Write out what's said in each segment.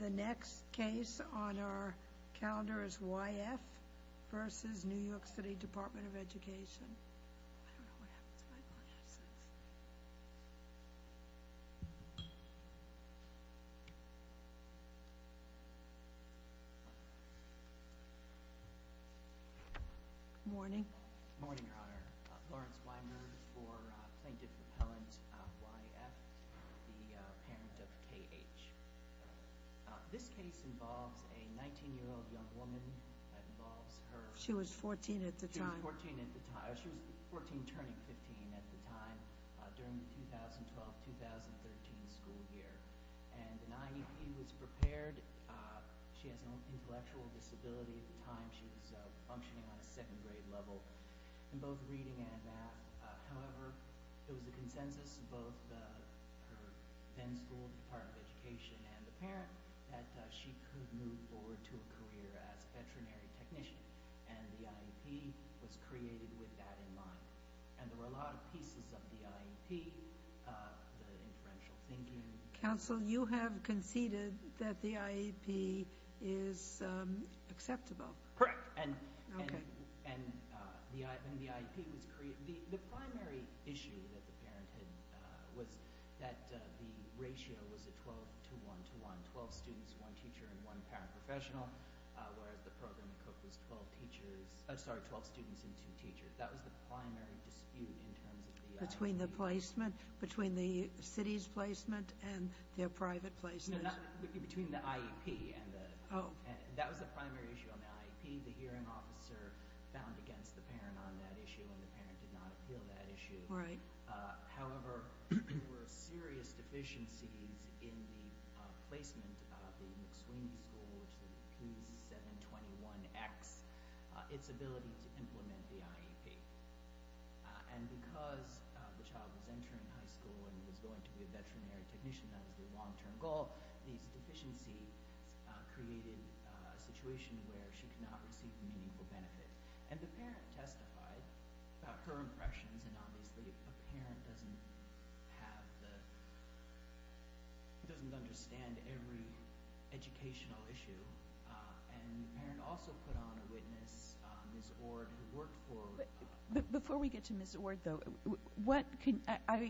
The next case on our calendar is Y.F. v. New York City Department of Education. Morning. Morning, Your Honor. Lawrence Weinberg for Plaintiff Appellant Y.F., the parent of K.H. This case involves a 19-year-old young woman. That involves her... She was 14 at the time. She was 14 at the time. She was 14 turning 15 at the time during the 2012-2013 school year. And an IEP was prepared. She has an intellectual disability at the time. She was functioning on a second-grade level. In both reading and math. However, there was a consensus in both her then-school Department of Education and the parent that she could move forward to a career as a veterinary technician. And the IEP was created with that in mind. And there were a lot of pieces of the IEP. The inferential thinking... Counsel, you have conceded that the IEP is acceptable. Correct. And the IEP was created... The primary issue that the parent had was that the ratio was a 12-to-1-to-1. Twelve students, one teacher, and one paraprofessional. Whereas the program at Cook was 12 students and two teachers. That was the primary dispute in terms of the IEP. Between the placement? Between the city's placement and their private placement? No, between the IEP and the... Oh. That was the primary issue on the IEP. The hearing officer found against the parent on that issue, and the parent did not appeal that issue. Right. However, there were serious deficiencies in the placement of the McSweeney School, which is the P721X, its ability to implement the IEP. And because the child was entering high school and was going to be a veterinary technician, that was the long-term goal, these deficiencies created a situation where she could not receive meaningful benefits. And the parent testified about her impressions, and obviously a parent doesn't have the... doesn't understand every educational issue. And the parent also put on a witness, Ms. Ord, who worked for... Before we get to Ms. Ord, though, I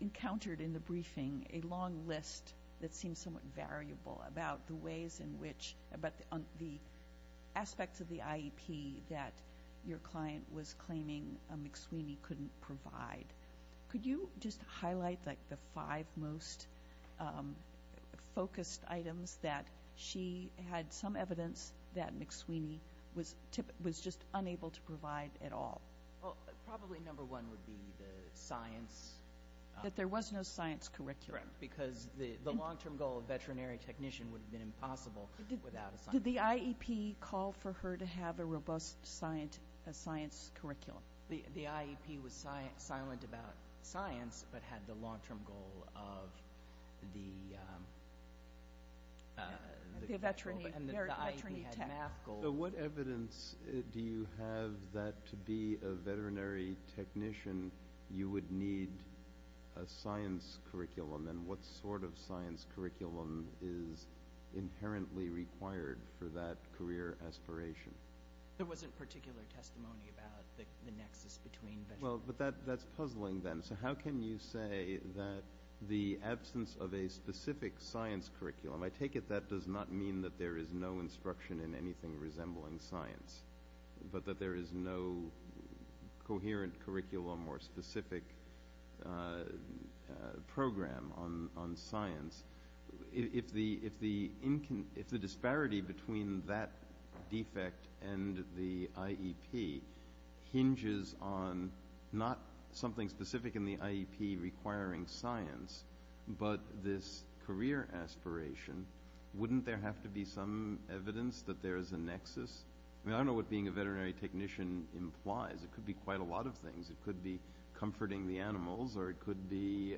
encountered in the briefing a long list that seems somewhat variable about the ways in which... about the aspects of the IEP that your client was claiming McSweeney couldn't provide. Could you just highlight, like, the five most focused items that she had some evidence that McSweeney was just unable to provide at all? Well, probably number one would be the science... That there was no science curriculum. Correct, because the long-term goal of veterinary technician would have been impossible without a science curriculum. Did the IEP call for her to have a robust science curriculum? The IEP was silent about science, but had the long-term goal of the... The veterinary tech. So what evidence do you have that to be a veterinary technician you would need a science curriculum, and what sort of science curriculum is inherently required for that career aspiration? There wasn't particular testimony about the nexus between... Well, but that's puzzling then. So how can you say that the absence of a specific science curriculum... But that there is no coherent curriculum or specific program on science? If the disparity between that defect and the IEP hinges on not something specific in the IEP requiring science, but this career aspiration, wouldn't there have to be some evidence that there is a nexus? I mean, I don't know what being a veterinary technician implies. It could be quite a lot of things. It could be comforting the animals, or it could be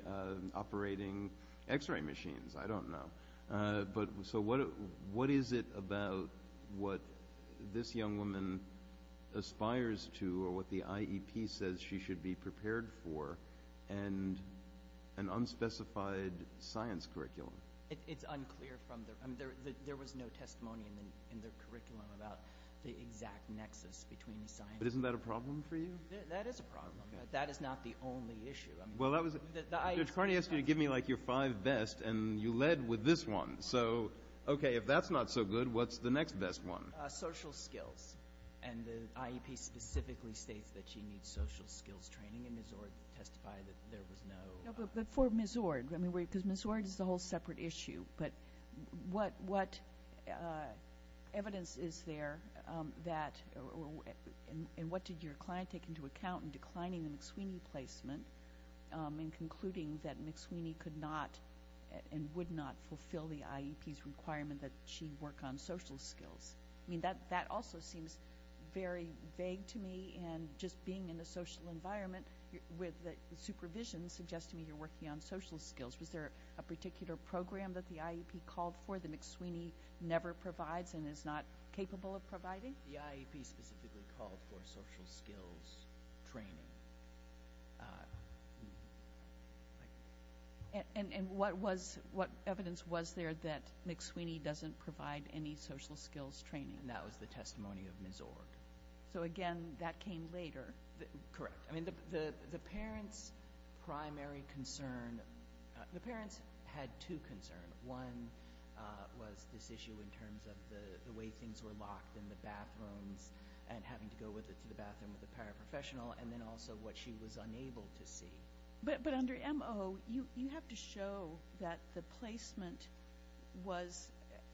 operating X-ray machines. I don't know. So what is it about what this young woman aspires to or what the IEP says she should be prepared for and an unspecified science curriculum? It's unclear from their... There was no testimony in their curriculum about the exact nexus between science... But isn't that a problem for you? That is a problem, but that is not the only issue. Judge Carney asked you to give me your five best, and you led with this one. So, okay, if that's not so good, what's the next best one? Social skills. And the IEP specifically states that she needs social skills training, and Ms. Ord testified that there was no... But for Ms. Ord, because Ms. Ord is a whole separate issue, but what evidence is there that... And what did your client take into account in declining the McSweeney placement and concluding that McSweeney could not and would not fulfill the IEP's requirement that she work on social skills? I mean, that also seems very vague to me, and just being in a social environment with the supervision suggests to me you're working on social skills. Was there a particular program that the IEP called for that McSweeney never provides and is not capable of providing? The IEP specifically called for social skills training. And what evidence was there that McSweeney doesn't provide any social skills training? And that was the testimony of Ms. Ord. So, again, that came later. Correct. I mean, the parents' primary concern... The parents had two concerns. One was this issue in terms of the way things were locked in the bathrooms and having to go to the bathroom with a paraprofessional, and then also what she was unable to see. But under MO, you have to show that the placement was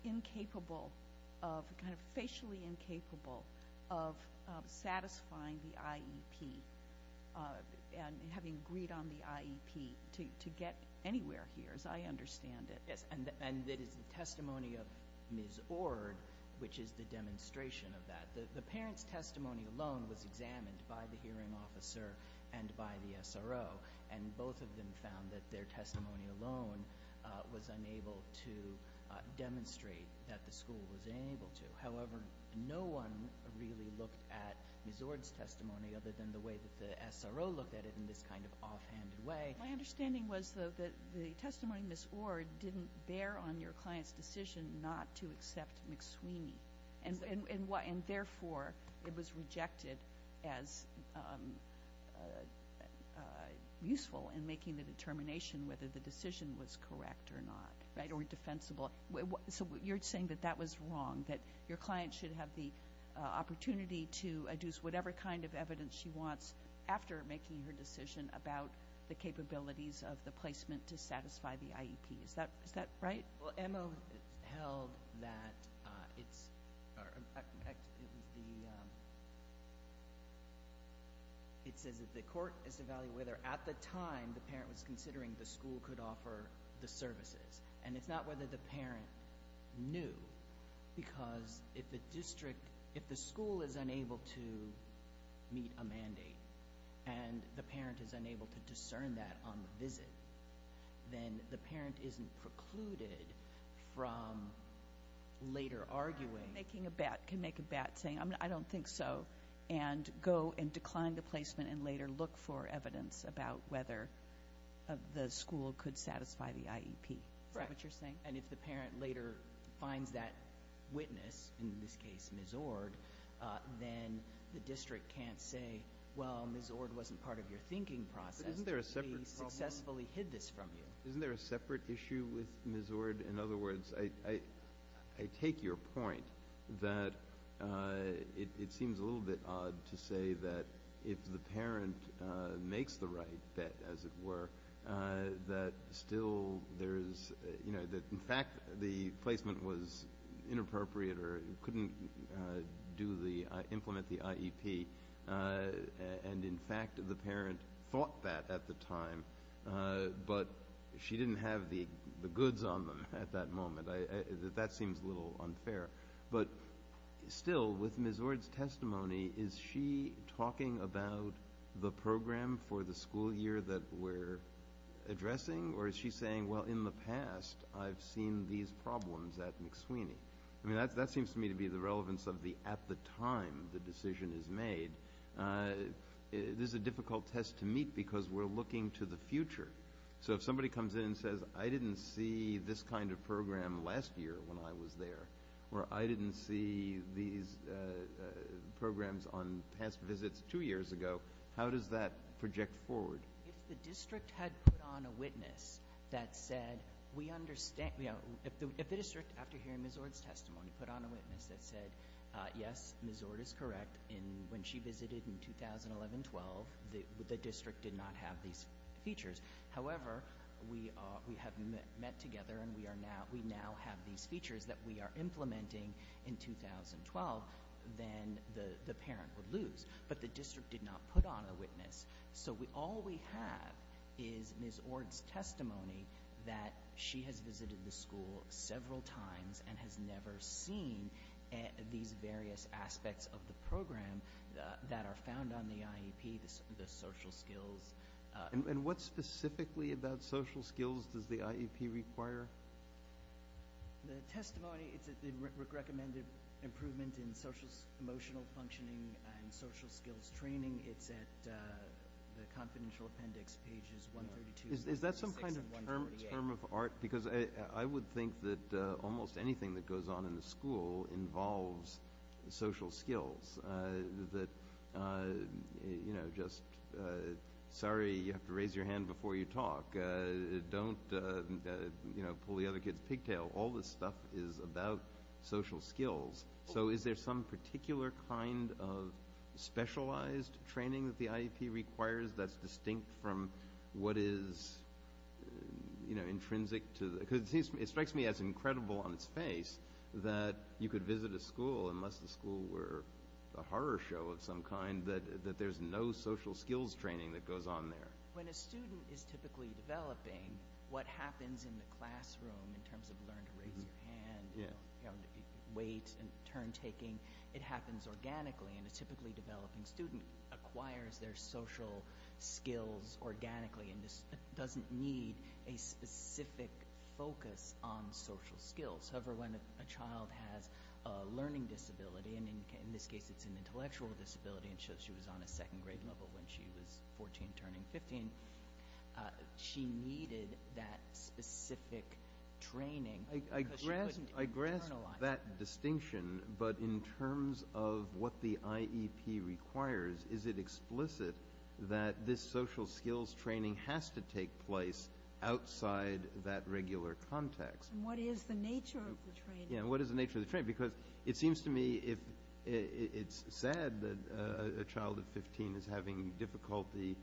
incapable of, kind of facially incapable of satisfying the IEP and having agreed on the IEP to get anywhere here, as I understand it. Yes, and that is the testimony of Ms. Ord, which is the demonstration of that. The parents' testimony alone was examined by the hearing officer and by the SRO, and both of them found that their testimony alone was unable to demonstrate that the school was able to. However, no one really looked at Ms. Ord's testimony other than the way that the SRO looked at it in this kind of offhanded way. My understanding was, though, that the testimony of Ms. Ord didn't bear on your client's decision not to accept McSweeney, and therefore it was rejected as useful in making the determination whether the decision was correct or not, or defensible. So you're saying that that was wrong, that your client should have the opportunity to adduce whatever kind of evidence she wants after making her decision about the capabilities of the placement to satisfy the IEP. Is that right? Well, MO held that it's the court is evaluating whether at the time the parent was considering the school could offer the services. And it's not whether the parent knew, because if the school is unable to meet a mandate and the parent is unable to discern that on the visit, then the parent isn't precluded from later arguing. You can make a bet saying, I don't think so, and go and decline the placement and later look for evidence about whether the school could satisfy the IEP. Is that what you're saying? Correct. And if the parent later finds that witness, in this case Ms. Ord, then the district can't say, well, Ms. Ord wasn't part of your thinking process. But isn't there a separate problem? We successfully hid this from you. Isn't there a separate issue with Ms. Ord? In other words, I take your point that it seems a little bit odd to say that if the parent makes the right bet, as it were, that still there is, you know, that in fact the placement was inappropriate or couldn't implement the IEP, and in fact the parent thought that at the time, but she didn't have the goods on them at that moment. That seems a little unfair. But still, with Ms. Ord's testimony, is she talking about the program for the school year that we're addressing, or is she saying, well, in the past I've seen these problems at McSweeny? I mean, that seems to me to be the relevance of the at the time the decision is made. This is a difficult test to meet because we're looking to the future. So if somebody comes in and says, I didn't see this kind of program last year when I was there, or I didn't see these programs on past visits two years ago, how does that project forward? If the district had put on a witness that said we understand, you know, if the district, after hearing Ms. Ord's testimony, put on a witness that said, yes, Ms. Ord is correct, when she visited in 2011-12 the district did not have these features. However, we have met together, and we now have these features that we are implementing in 2012, then the parent would lose. But the district did not put on a witness. So all we have is Ms. Ord's testimony that she has visited the school several times and has never seen these various aspects of the program that are found on the IEP, the social skills. And what specifically about social skills does the IEP require? The testimony, it's a recommended improvement in social emotional functioning and social skills training. It's at the confidential appendix, pages 132-136 and 138. Is that some kind of term of art? Because I would think that almost anything that goes on in the school involves social skills, that, you know, just, sorry, you have to raise your hand before you talk. Don't, you know, pull the other kid's pigtail. All this stuff is about social skills. So is there some particular kind of specialized training that the IEP requires that's distinct from what is, you know, intrinsic to the – because it strikes me as incredible on its face that you could visit a school, unless the school were a horror show of some kind, that there's no social skills training that goes on there. When a student is typically developing, what happens in the classroom in terms of learn to raise your hand, weight and turn taking, it happens organically. And a typically developing student acquires their social skills organically and doesn't need a specific focus on social skills. However, when a child has a learning disability, and in this case it's an intellectual disability, and so she was on a second grade level when she was 14 turning 15, she needed that specific training because she couldn't internalize that. I grasp that distinction, but in terms of what the IEP requires, is it explicit that this social skills training has to take place outside that regular context? And what is the nature of the training? Yeah, and what is the nature of the training? Because it seems to me it's sad that a child of 15 is having difficulty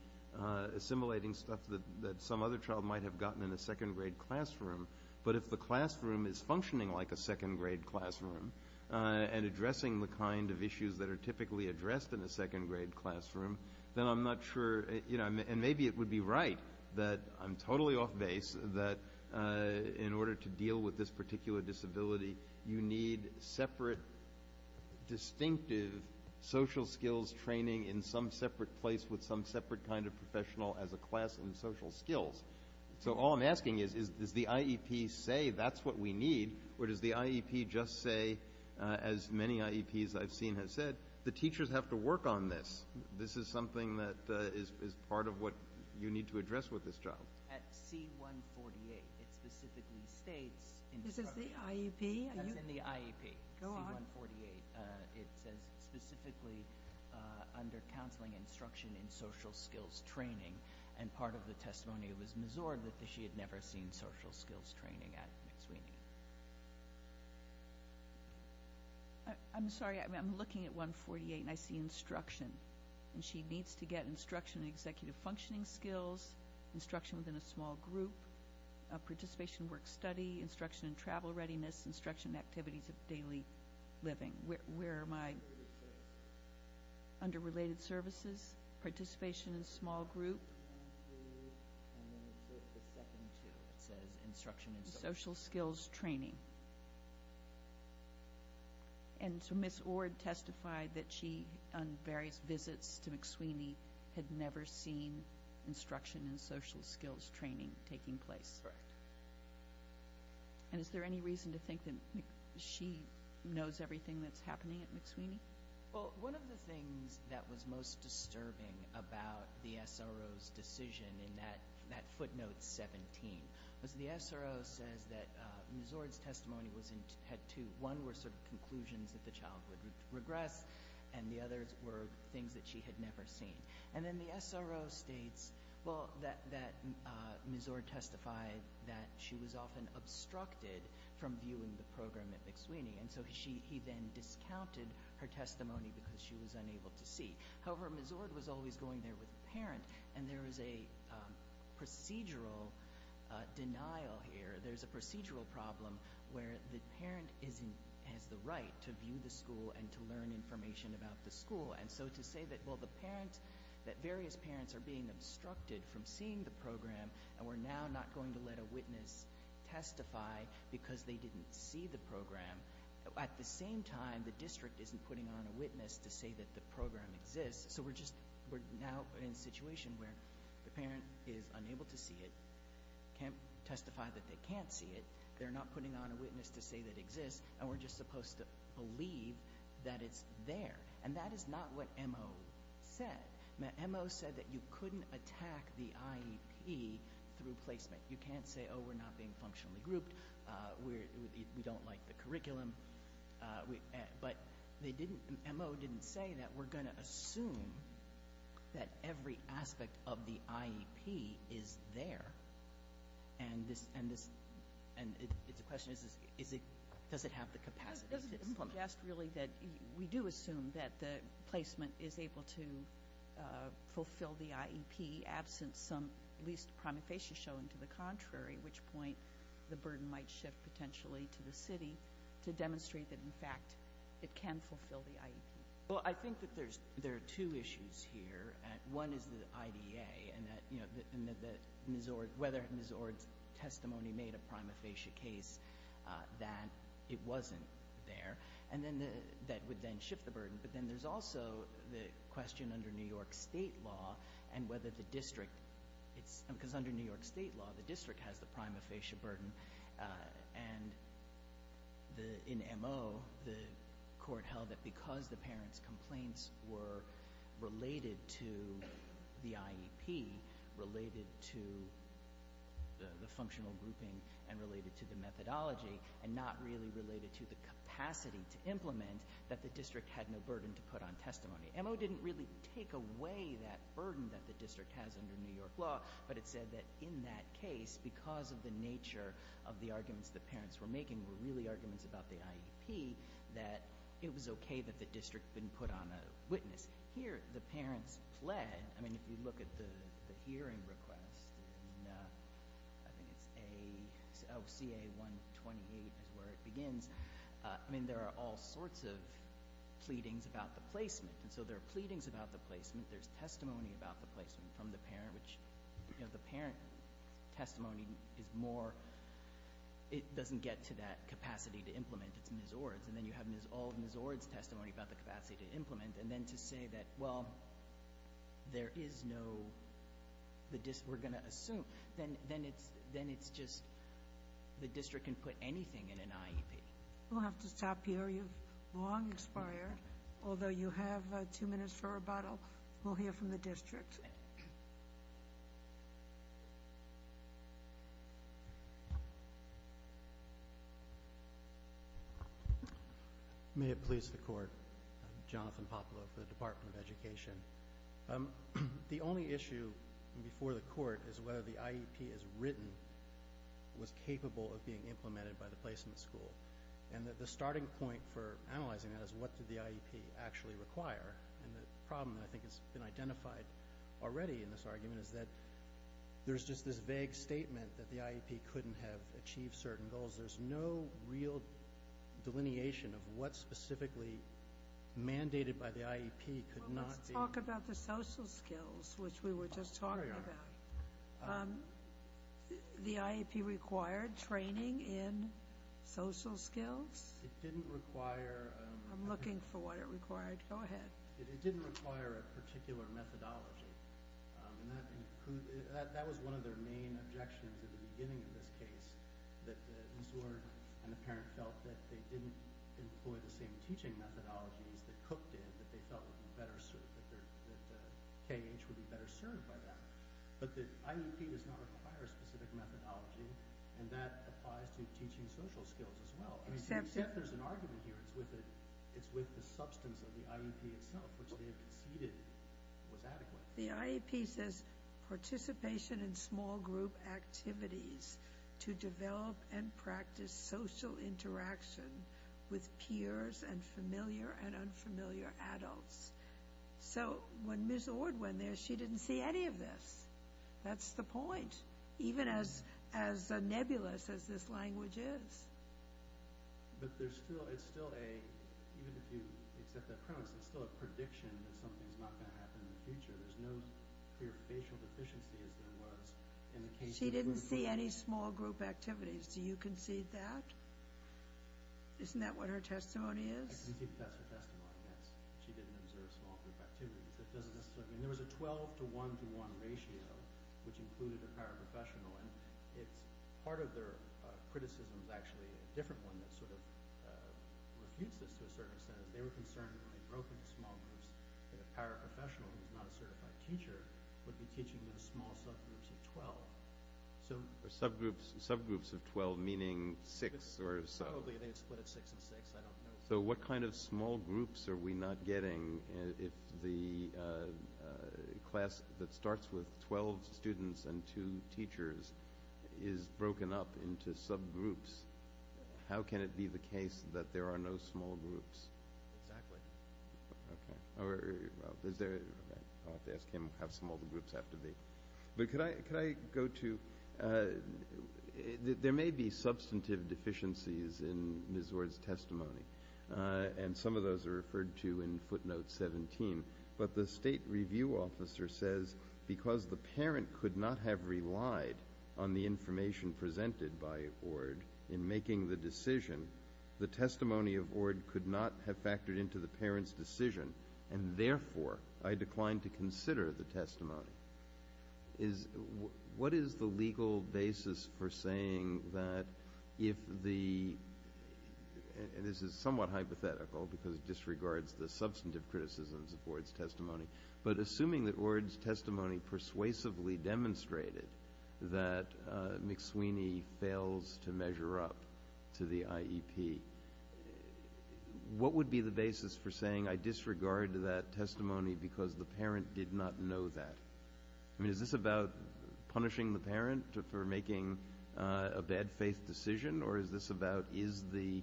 assimilating stuff that some other child might have gotten in a second grade classroom, but if the classroom is functioning like a second grade classroom and addressing the kind of issues that are typically addressed in a second grade classroom, then I'm not sure, you know, and maybe it would be right that I'm totally off base that in order to deal with this particular disability, you need separate distinctive social skills training in some separate place with some separate kind of professional as a class in social skills. So all I'm asking is, does the IEP say that's what we need, or does the IEP just say, as many IEPs I've seen have said, the teachers have to work on this. This is something that is part of what you need to address with this child. At C-148, it specifically states in the program. This is the IEP? That's in the IEP. Go on. C-148. It says specifically under counseling instruction in social skills training, and part of the testimony was Ms. Zord that she had never seen social skills training at McSweeney. I'm sorry. I'm looking at 148, and I see instruction, and she needs to get instruction in executive functioning skills, instruction within a small group, participation in work-study, instruction in travel readiness, instruction in activities of daily living. Where am I? Under related services, participation in small group. It says instruction in social skills training. And so Ms. Zord testified that she, on various visits to McSweeney, had never seen instruction in social skills training taking place. Correct. And is there any reason to think that she knows everything that's happening at McSweeney? Well, one of the things that was most disturbing about the SRO's decision in that footnote 17 was the SRO says that Ms. Zord's testimony had two. One were sort of conclusions that the child would regress, and the others were things that she had never seen. And then the SRO states that Ms. Zord testified that she was often obstructed from viewing the program at McSweeney, and so he then discounted her testimony because she was unable to see. However, Ms. Zord was always going there with a parent, and there was a procedural denial here. There's a procedural problem where the parent has the right to view the school and to learn information about the school. And so to say that various parents are being obstructed from seeing the program and we're now not going to let a witness testify because they didn't see the program, at the same time the district isn't putting on a witness to say that the program exists. So we're just now in a situation where the parent is unable to see it, can't testify that they can't see it, they're not putting on a witness to say that it exists, and we're just supposed to believe that it's there. And that is not what MO said. MO said that you couldn't attack the IEP through placement. You can't say, oh, we're not being functionally grouped, we don't like the curriculum. But MO didn't say that we're going to assume that every aspect of the IEP is there. And the question is, does it have the capacity to implement it? It doesn't suggest really that we do assume that the placement is able to fulfill the IEP in the absence of at least some prima facie showing to the contrary, which point the burden might shift potentially to the city to demonstrate that, in fact, it can fulfill the IEP. Well, I think that there are two issues here. One is the IDA and whether Ms. Ord's testimony made a prima facie case that it wasn't there. And then that would then shift the burden. But then there's also the question under New York State law and whether the district, because under New York State law, the district has the prima facie burden. And in MO, the court held that because the parents' complaints were related to the IEP, related to the functional grouping, and related to the methodology, and not really related to the capacity to implement, that the district had no burden to put on testimony. MO didn't really take away that burden that the district has under New York law, but it said that in that case, because of the nature of the arguments the parents were making, were really arguments about the IEP, that it was okay that the district didn't put on a witness. Here, the parents pled. I mean, if you look at the hearing request, I think it's OCA-128 is where it begins. I mean, there are all sorts of pleadings about the placement. And so there are pleadings about the placement. There's testimony about the placement from the parent, which the parent testimony is more, it doesn't get to that capacity to implement. It's Ms. Ord's. And then you have all of Ms. Ord's testimony about the capacity to implement. And then to say that, well, there is no, we're going to assume, then it's just the district can put anything in an IEP. We'll have to stop here. You've long expired. Although you have two minutes for rebuttal, we'll hear from the district. May it please the Court. I'm Jonathan Poplow for the Department of Education. The only issue before the Court is whether the IEP as written was capable of being implemented by the placement school. And the starting point for analyzing that is what did the IEP actually require. And the problem that I think has been identified already in this argument is that there's just this vague statement that the IEP couldn't have achieved certain goals. There's no real delineation of what specifically mandated by the IEP could not be. Well, let's talk about the social skills, which we were just talking about. The IEP required training in social skills. It didn't require. I'm looking for what it required. Go ahead. It didn't require a particular methodology. And that was one of their main objections at the beginning of this case, that the insurer and the parent felt that they didn't employ the same teaching methodologies that Cook did, that they felt would be better served, that KH would be better served by that. But the IEP does not require a specific methodology, and that applies to teaching social skills as well. Except there's an argument here. It's with the substance of the IEP itself, which they have conceded was adequate. The IEP says, Participation in small group activities to develop and practice social interaction with peers and familiar and unfamiliar adults. So when Ms. Ord went there, she didn't see any of this. That's the point, even as nebulous as this language is. But there's still, it's still a, even if you accept that premise, it's still a prediction that something's not going to happen in the future. There's no clear facial deficiency as there was in the case of the group. She didn't see any small group activities. Do you concede that? Isn't that what her testimony is? I concede that that's her testimony, yes. She didn't observe small group activities. That doesn't necessarily mean. There was a 12 to 1 to 1 ratio, which included a paraprofessional. Part of their criticism is actually a different one that sort of refutes this to a certain extent. They were concerned when they broke into small groups that a paraprofessional, who's not a certified teacher, would be teaching those small subgroups of 12. Subgroups of 12, meaning six or so. Probably they'd split it six and six. So what kind of small groups are we not getting if the class that starts with 12 students and two teachers is broken up into subgroups? How can it be the case that there are no small groups? Exactly. Okay. Or is there, I'll have to ask him how small the groups have to be. But could I go to, there may be substantive deficiencies in Ms. Ord's testimony, and some of those are referred to in footnote 17. But the state review officer says because the parent could not have relied on the information presented by Ord in making the decision, the testimony of Ord could not have factored into the parent's decision, and therefore I declined to consider the testimony. What is the legal basis for saying that if the, and this is somewhat hypothetical because it disregards the substantive criticisms of Ord's testimony, but assuming that Ord's testimony persuasively demonstrated that McSweeny fails to measure up to the IEP, what would be the basis for saying I disregard that testimony because the parent did not know that? I mean, is this about punishing the parent for making a bad faith decision, or is this about is the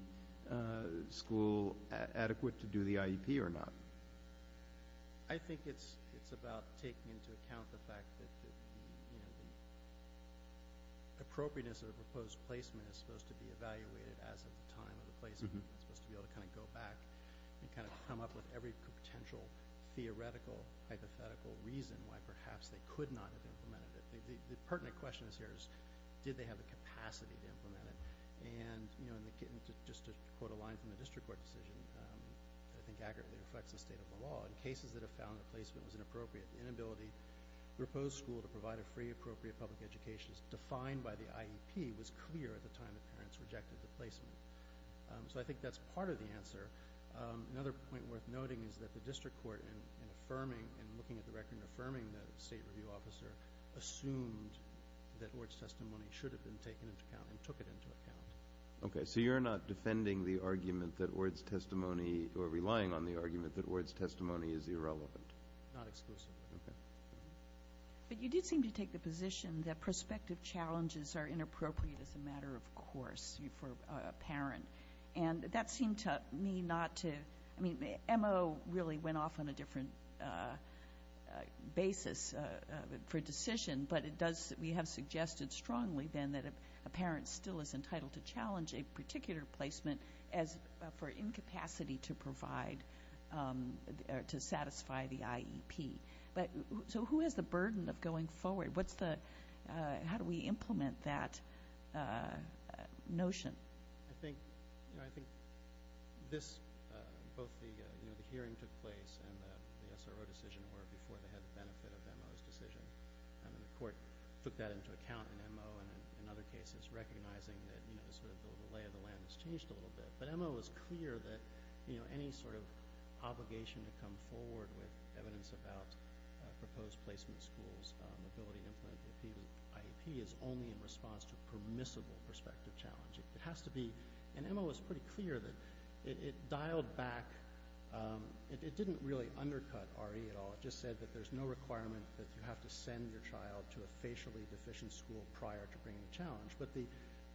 school adequate to do the IEP or not? I think it's about taking into account the fact that the appropriateness of a proposed placement is supposed to be evaluated as of the time of the placement. It's supposed to be able to kind of go back and kind of come up with every potential theoretical hypothetical reason why perhaps they could not have implemented it. The pertinent question here is did they have the capacity to implement it? And just to quote a line from the district court decision that I think accurately reflects the state of the law, in cases that have found the placement was inappropriate, the inability of the proposed school to provide a free, appropriate public education defined by the IEP was clear at the time the parents rejected the placement. So I think that's part of the answer. Another point worth noting is that the district court, in affirming and looking at the record and affirming the state review officer, assumed that Ord's testimony should have been taken into account and took it into account. Okay. So you're not defending the argument that Ord's testimony or relying on the argument that Ord's testimony is irrelevant? Not exclusively. Okay. But you did seem to take the position that prospective challenges are inappropriate as a matter of course for a parent. And that seemed to me not to ‑‑ I mean MO really went off on a different basis for decision, but we have suggested strongly then that a parent still is entitled to challenge a particular placement for incapacity to provide or to satisfy the IEP. So who has the burden of going forward? How do we implement that notion? I think this, both the hearing took place and the SRO decision were before they had the benefit of MO's decision. I mean the court took that into account in MO and in other cases, recognizing that sort of the lay of the land has changed a little bit. But MO was clear that any sort of obligation to come forward with evidence about proposed placement schools, the ability to implement the IEP is only in response to permissible prospective challenge. It has to be, and MO was pretty clear that it dialed back, it didn't really undercut RE at all. It just said that there's no requirement that you have to send your child to a facially deficient school prior to bringing a challenge. But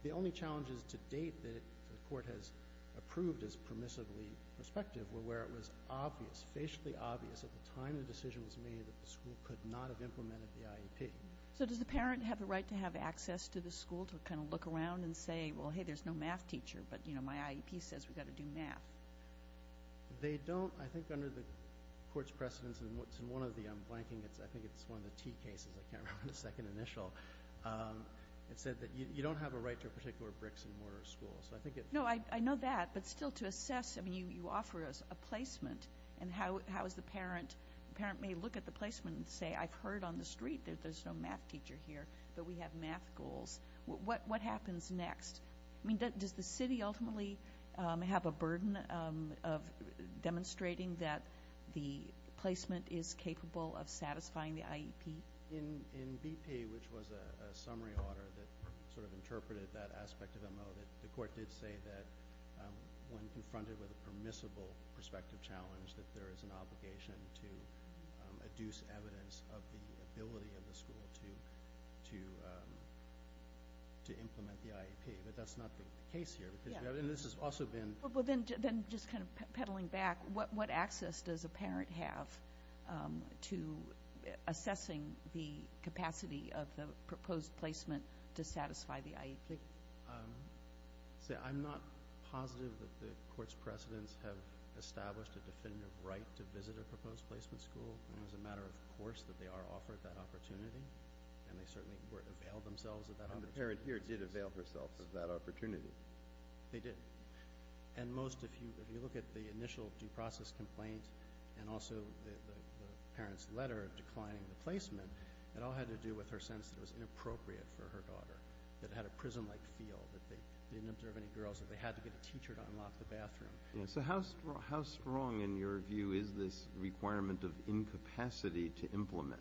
the only challenges to date that the court has approved as permissibly prospective were where it was obvious, facially obvious at the time the decision was made that the school could not have implemented the IEP. So does the parent have the right to have access to the school to kind of look around and say, well, hey, there's no math teacher, but my IEP says we've got to do math? They don't. I think under the court's precedence in one of the, I'm blanking, I think it's one of the T cases, I can't remember the second initial, it said that you don't have a right to a particular bricks and mortar school. So I think it- No, I know that, but still to assess, I mean, you offer us a placement, and how is the parent, the parent may look at the placement and say, I've heard on the street that there's no math teacher here, but we have math goals. What happens next? I mean, does the city ultimately have a burden of demonstrating that the placement is capable of satisfying the IEP? In BP, which was a summary order that sort of interpreted that aspect of MO, the court did say that when confronted with a permissible prospective challenge, that there is an obligation to adduce evidence of the ability of the school to implement the IEP. But that's not the case here, because this has also been- Well, then just kind of peddling back, what access does a parent have to assessing the capacity of the proposed placement to satisfy the IEP? See, I'm not positive that the court's precedents have established a definitive right to visit a proposed placement school. It's a matter of course that they are offered that opportunity, and they certainly availed themselves of that opportunity. And the parent here did avail herself of that opportunity. They did. And most, if you look at the initial due process complaint and also the parent's letter declining the placement, it all had to do with her sense that it was inappropriate for her daughter, that it had a prison-like feel, that they didn't observe any girls, that they had to get a teacher to unlock the bathroom. So how strong, in your view, is this requirement of incapacity to implement?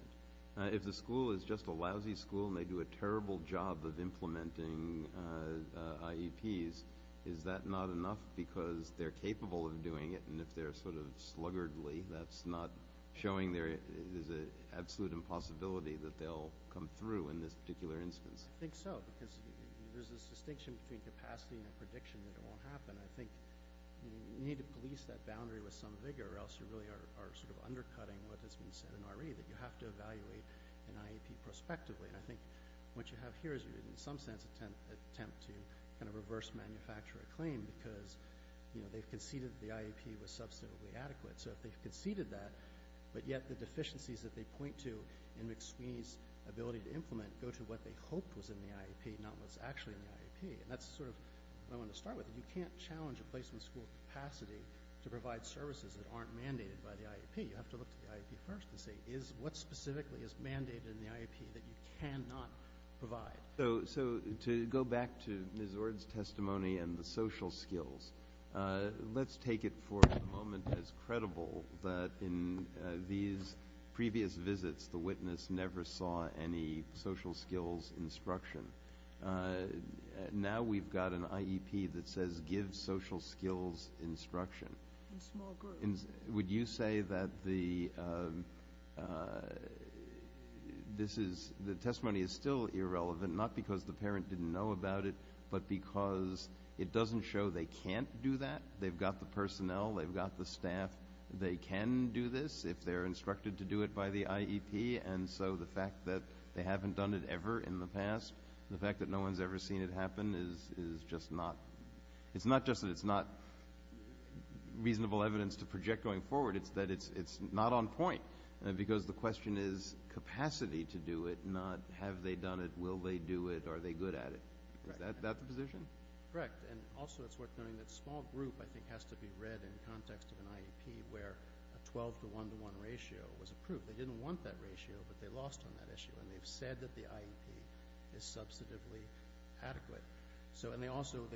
If the school is just a lousy school and they do a terrible job of implementing IEPs, is that not enough because they're capable of doing it? And if they're sort of sluggardly, that's not showing there is an absolute impossibility that they'll come through in this particular instance? I think so, because there's this distinction between capacity and a prediction that it won't happen. I think you need to police that boundary with some vigor, or else you really are sort of undercutting what has been said in RE, that you have to evaluate an IEP prospectively. And I think what you have here is, in some sense, an attempt to kind of reverse manufacture a claim because they've conceded the IEP was substantively adequate. So if they've conceded that, but yet the deficiencies that they point to in McSweeney's ability to implement go to what they hoped was in the IEP, not what's actually in the IEP. And that's sort of what I wanted to start with. You can't challenge a placement school capacity to provide services that aren't mandated by the IEP. You have to look to the IEP first and say, what specifically is mandated in the IEP that you cannot provide? So to go back to Ms. Ord's testimony and the social skills, let's take it for the moment as credible that in these previous visits, the witness never saw any social skills instruction. Now we've got an IEP that says give social skills instruction. In small groups. Would you say that the testimony is still irrelevant, not because the parent didn't know about it, but because it doesn't show they can't do that? They've got the personnel. They've got the staff. They can do this if they're instructed to do it by the IEP. And so the fact that they haven't done it ever in the past, the fact that no one's ever seen it happen is just not reasonable evidence to project going forward. It's that it's not on point because the question is capacity to do it, not have they done it, will they do it, are they good at it. Is that the position? Correct. And also it's worth noting that small group I think has to be read in context of an IEP where a 12 to 1 to 1 ratio was approved. They didn't want that ratio, but they lost on that issue. And they've said that the IEP is substantively adequate. And they also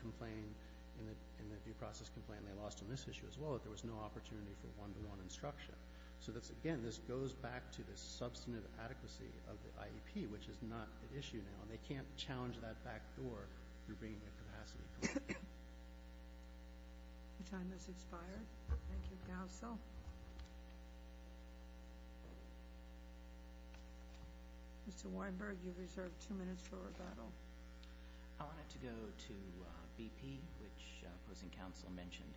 complained in the due process complaint, they lost on this issue as well, that there was no opportunity for one to one instruction. So, again, this goes back to the substantive adequacy of the IEP, which is not an issue now. And they can't challenge that back door through bringing the capacity. Your time has expired. Thank you, council. Mr. Weinberg, you have reserved two minutes for rebuttal. I wanted to go to BP, which opposing council mentioned.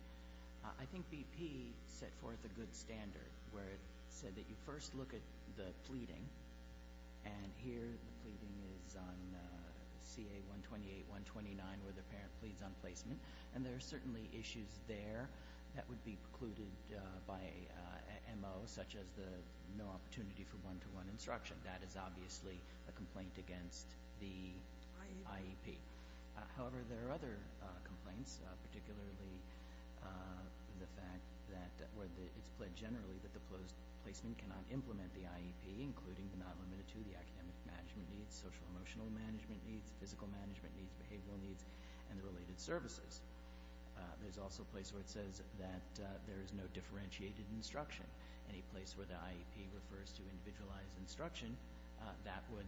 I think BP set forth a good standard where it said that you first look at the pleading, and here the pleading is on CA-128-129 where the parent pleads on placement. And there are certainly issues there that would be precluded by MO, such as the no opportunity for one to one instruction. That is obviously a complaint against the IEP. However, there are other complaints, particularly the fact that it's pledged generally that the placement cannot implement the IEP, including but not limited to the academic management needs, social-emotional management needs, physical management needs, behavioral needs, and the related services. There's also a place where it says that there is no differentiated instruction. Any place where the IEP refers to individualized instruction, that would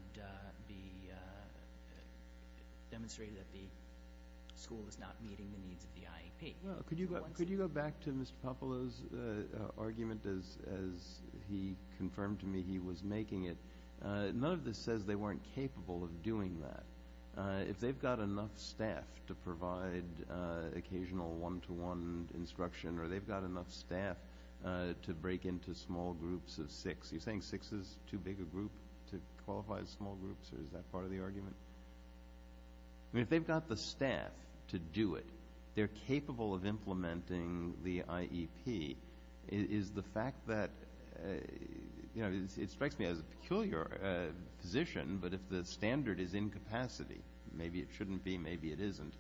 demonstrate that the school is not meeting the needs of the IEP. Could you go back to Mr. Popolo's argument as he confirmed to me he was making it? None of this says they weren't capable of doing that. If they've got enough staff to provide occasional one-to-one instruction or they've got enough staff to break into small groups of six, you're saying six is too big a group to qualify as small groups, or is that part of the argument? I mean, if they've got the staff to do it, they're capable of implementing the IEP. Is the fact that, you know, it strikes me as a peculiar position, but if the standard is incapacity, maybe it shouldn't be, maybe it isn't,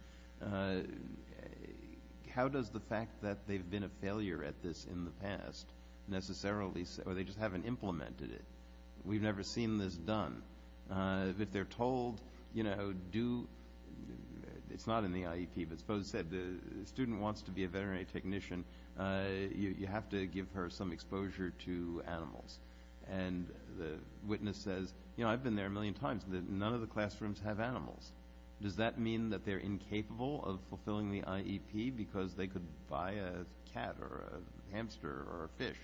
how does the fact that they've been a failure at this in the past necessarily say, or they just haven't implemented it, we've never seen this done? If they're told, you know, do, it's not in the IEP, but suppose the student wants to be a veterinary technician, you have to give her some exposure to animals. And the witness says, you know, I've been there a million times. None of the classrooms have animals. Does that mean that they're incapable of fulfilling the IEP because they could buy a cat or a hamster or a fish?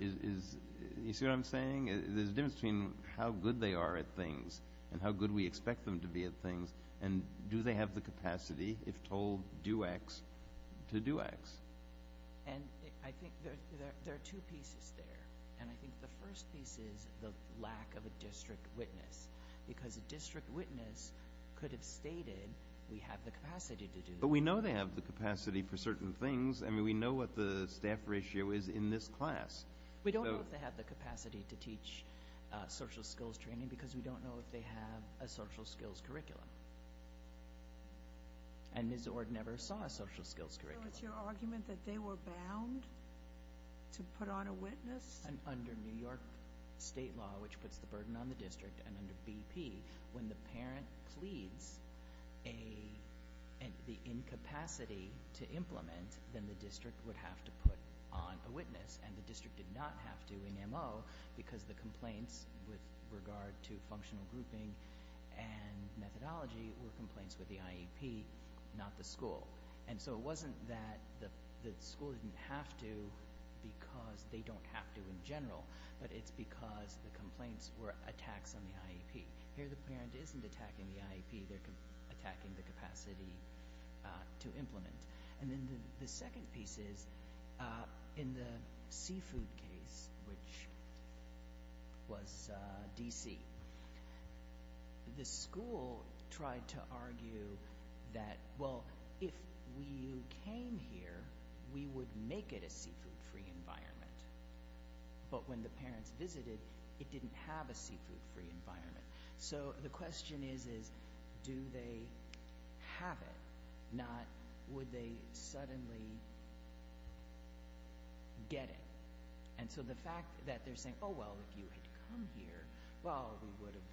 You see what I'm saying? There's a difference between how good they are at things and how good we expect them to be at things and do they have the capacity, if told, do X to do X. And I think there are two pieces there, and I think the first piece is the lack of a district witness because a district witness could have stated we have the capacity to do that. But we know they have the capacity for certain things. I mean, we know what the staff ratio is in this class. We don't know if they have the capacity to teach social skills training because we don't know if they have a social skills curriculum. And Ms. Ord never saw a social skills curriculum. So it's your argument that they were bound to put on a witness? Under New York state law, which puts the burden on the district, and under BP when the parent pleads the incapacity to implement, then the district would have to put on a witness, and the district did not have to in MO because the complaints with regard to functional grouping and methodology were complaints with the IEP, not the school. And so it wasn't that the school didn't have to because they don't have to in general, but it's because the complaints were attacks on the IEP. Here the parent isn't attacking the IEP. They're attacking the capacity to implement. And then the second piece is in the seafood case, which was D.C., the school tried to argue that, well, if we came here, we would make it a seafood-free environment. But when the parents visited, it didn't have a seafood-free environment. So the question is, do they have it, not would they suddenly get it? And so the fact that they're saying, oh, well, if you had come here, well, we would have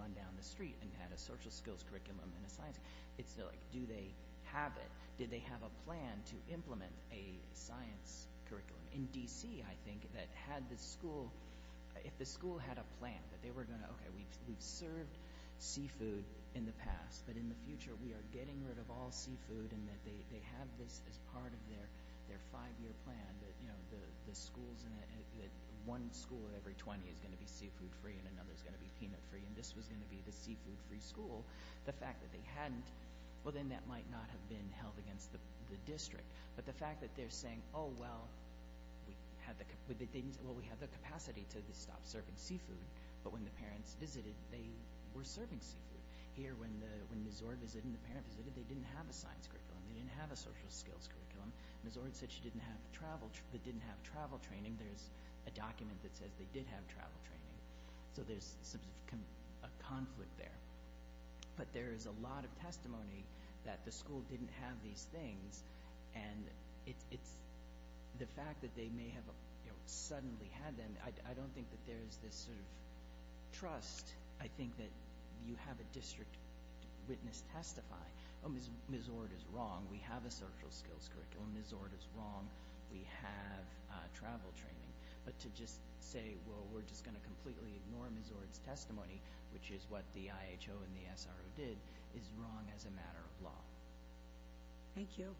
run down the street and had a social skills curriculum and a science, it's like, do they have it? Did they have a plan to implement a science curriculum? In D.C., I think, that had the school, if the school had a plan that they were going to, okay, we've served seafood in the past, but in the future we are getting rid of all seafood and that they have this as part of their five-year plan that, you know, the schools in it, that one school every 20 is going to be seafood-free and another is going to be peanut-free and this was going to be the seafood-free school, the fact that they hadn't, well, then that might not have been held against the district. But the fact that they're saying, oh, well, we have the capacity to stop serving seafood, but when the parents visited, they were serving seafood. Here when Ms. Zord visited and the parents visited, they didn't have a science curriculum. They didn't have a social skills curriculum. Ms. Zord said she didn't have travel training. There's a document that says they did have travel training. So there's a conflict there. But there is a lot of testimony that the school didn't have these things and it's the fact that they may have suddenly had them. I don't think that there is this sort of trust. I think that you have a district witness testify. Ms. Zord is wrong. We have a social skills curriculum. Ms. Zord is wrong. We have travel training. But to just say, well, we're just going to completely ignore Ms. Zord's testimony, which is what the IHO and the SRO did, is wrong as a matter of law. Thank you.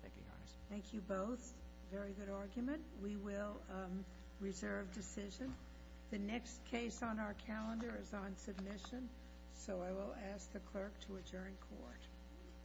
Thank you, Your Honor. Thank you both. Very good argument. We will reserve decision. The next case on our calendar is on submission. So I will ask the clerk to adjourn court. Court is adjourned.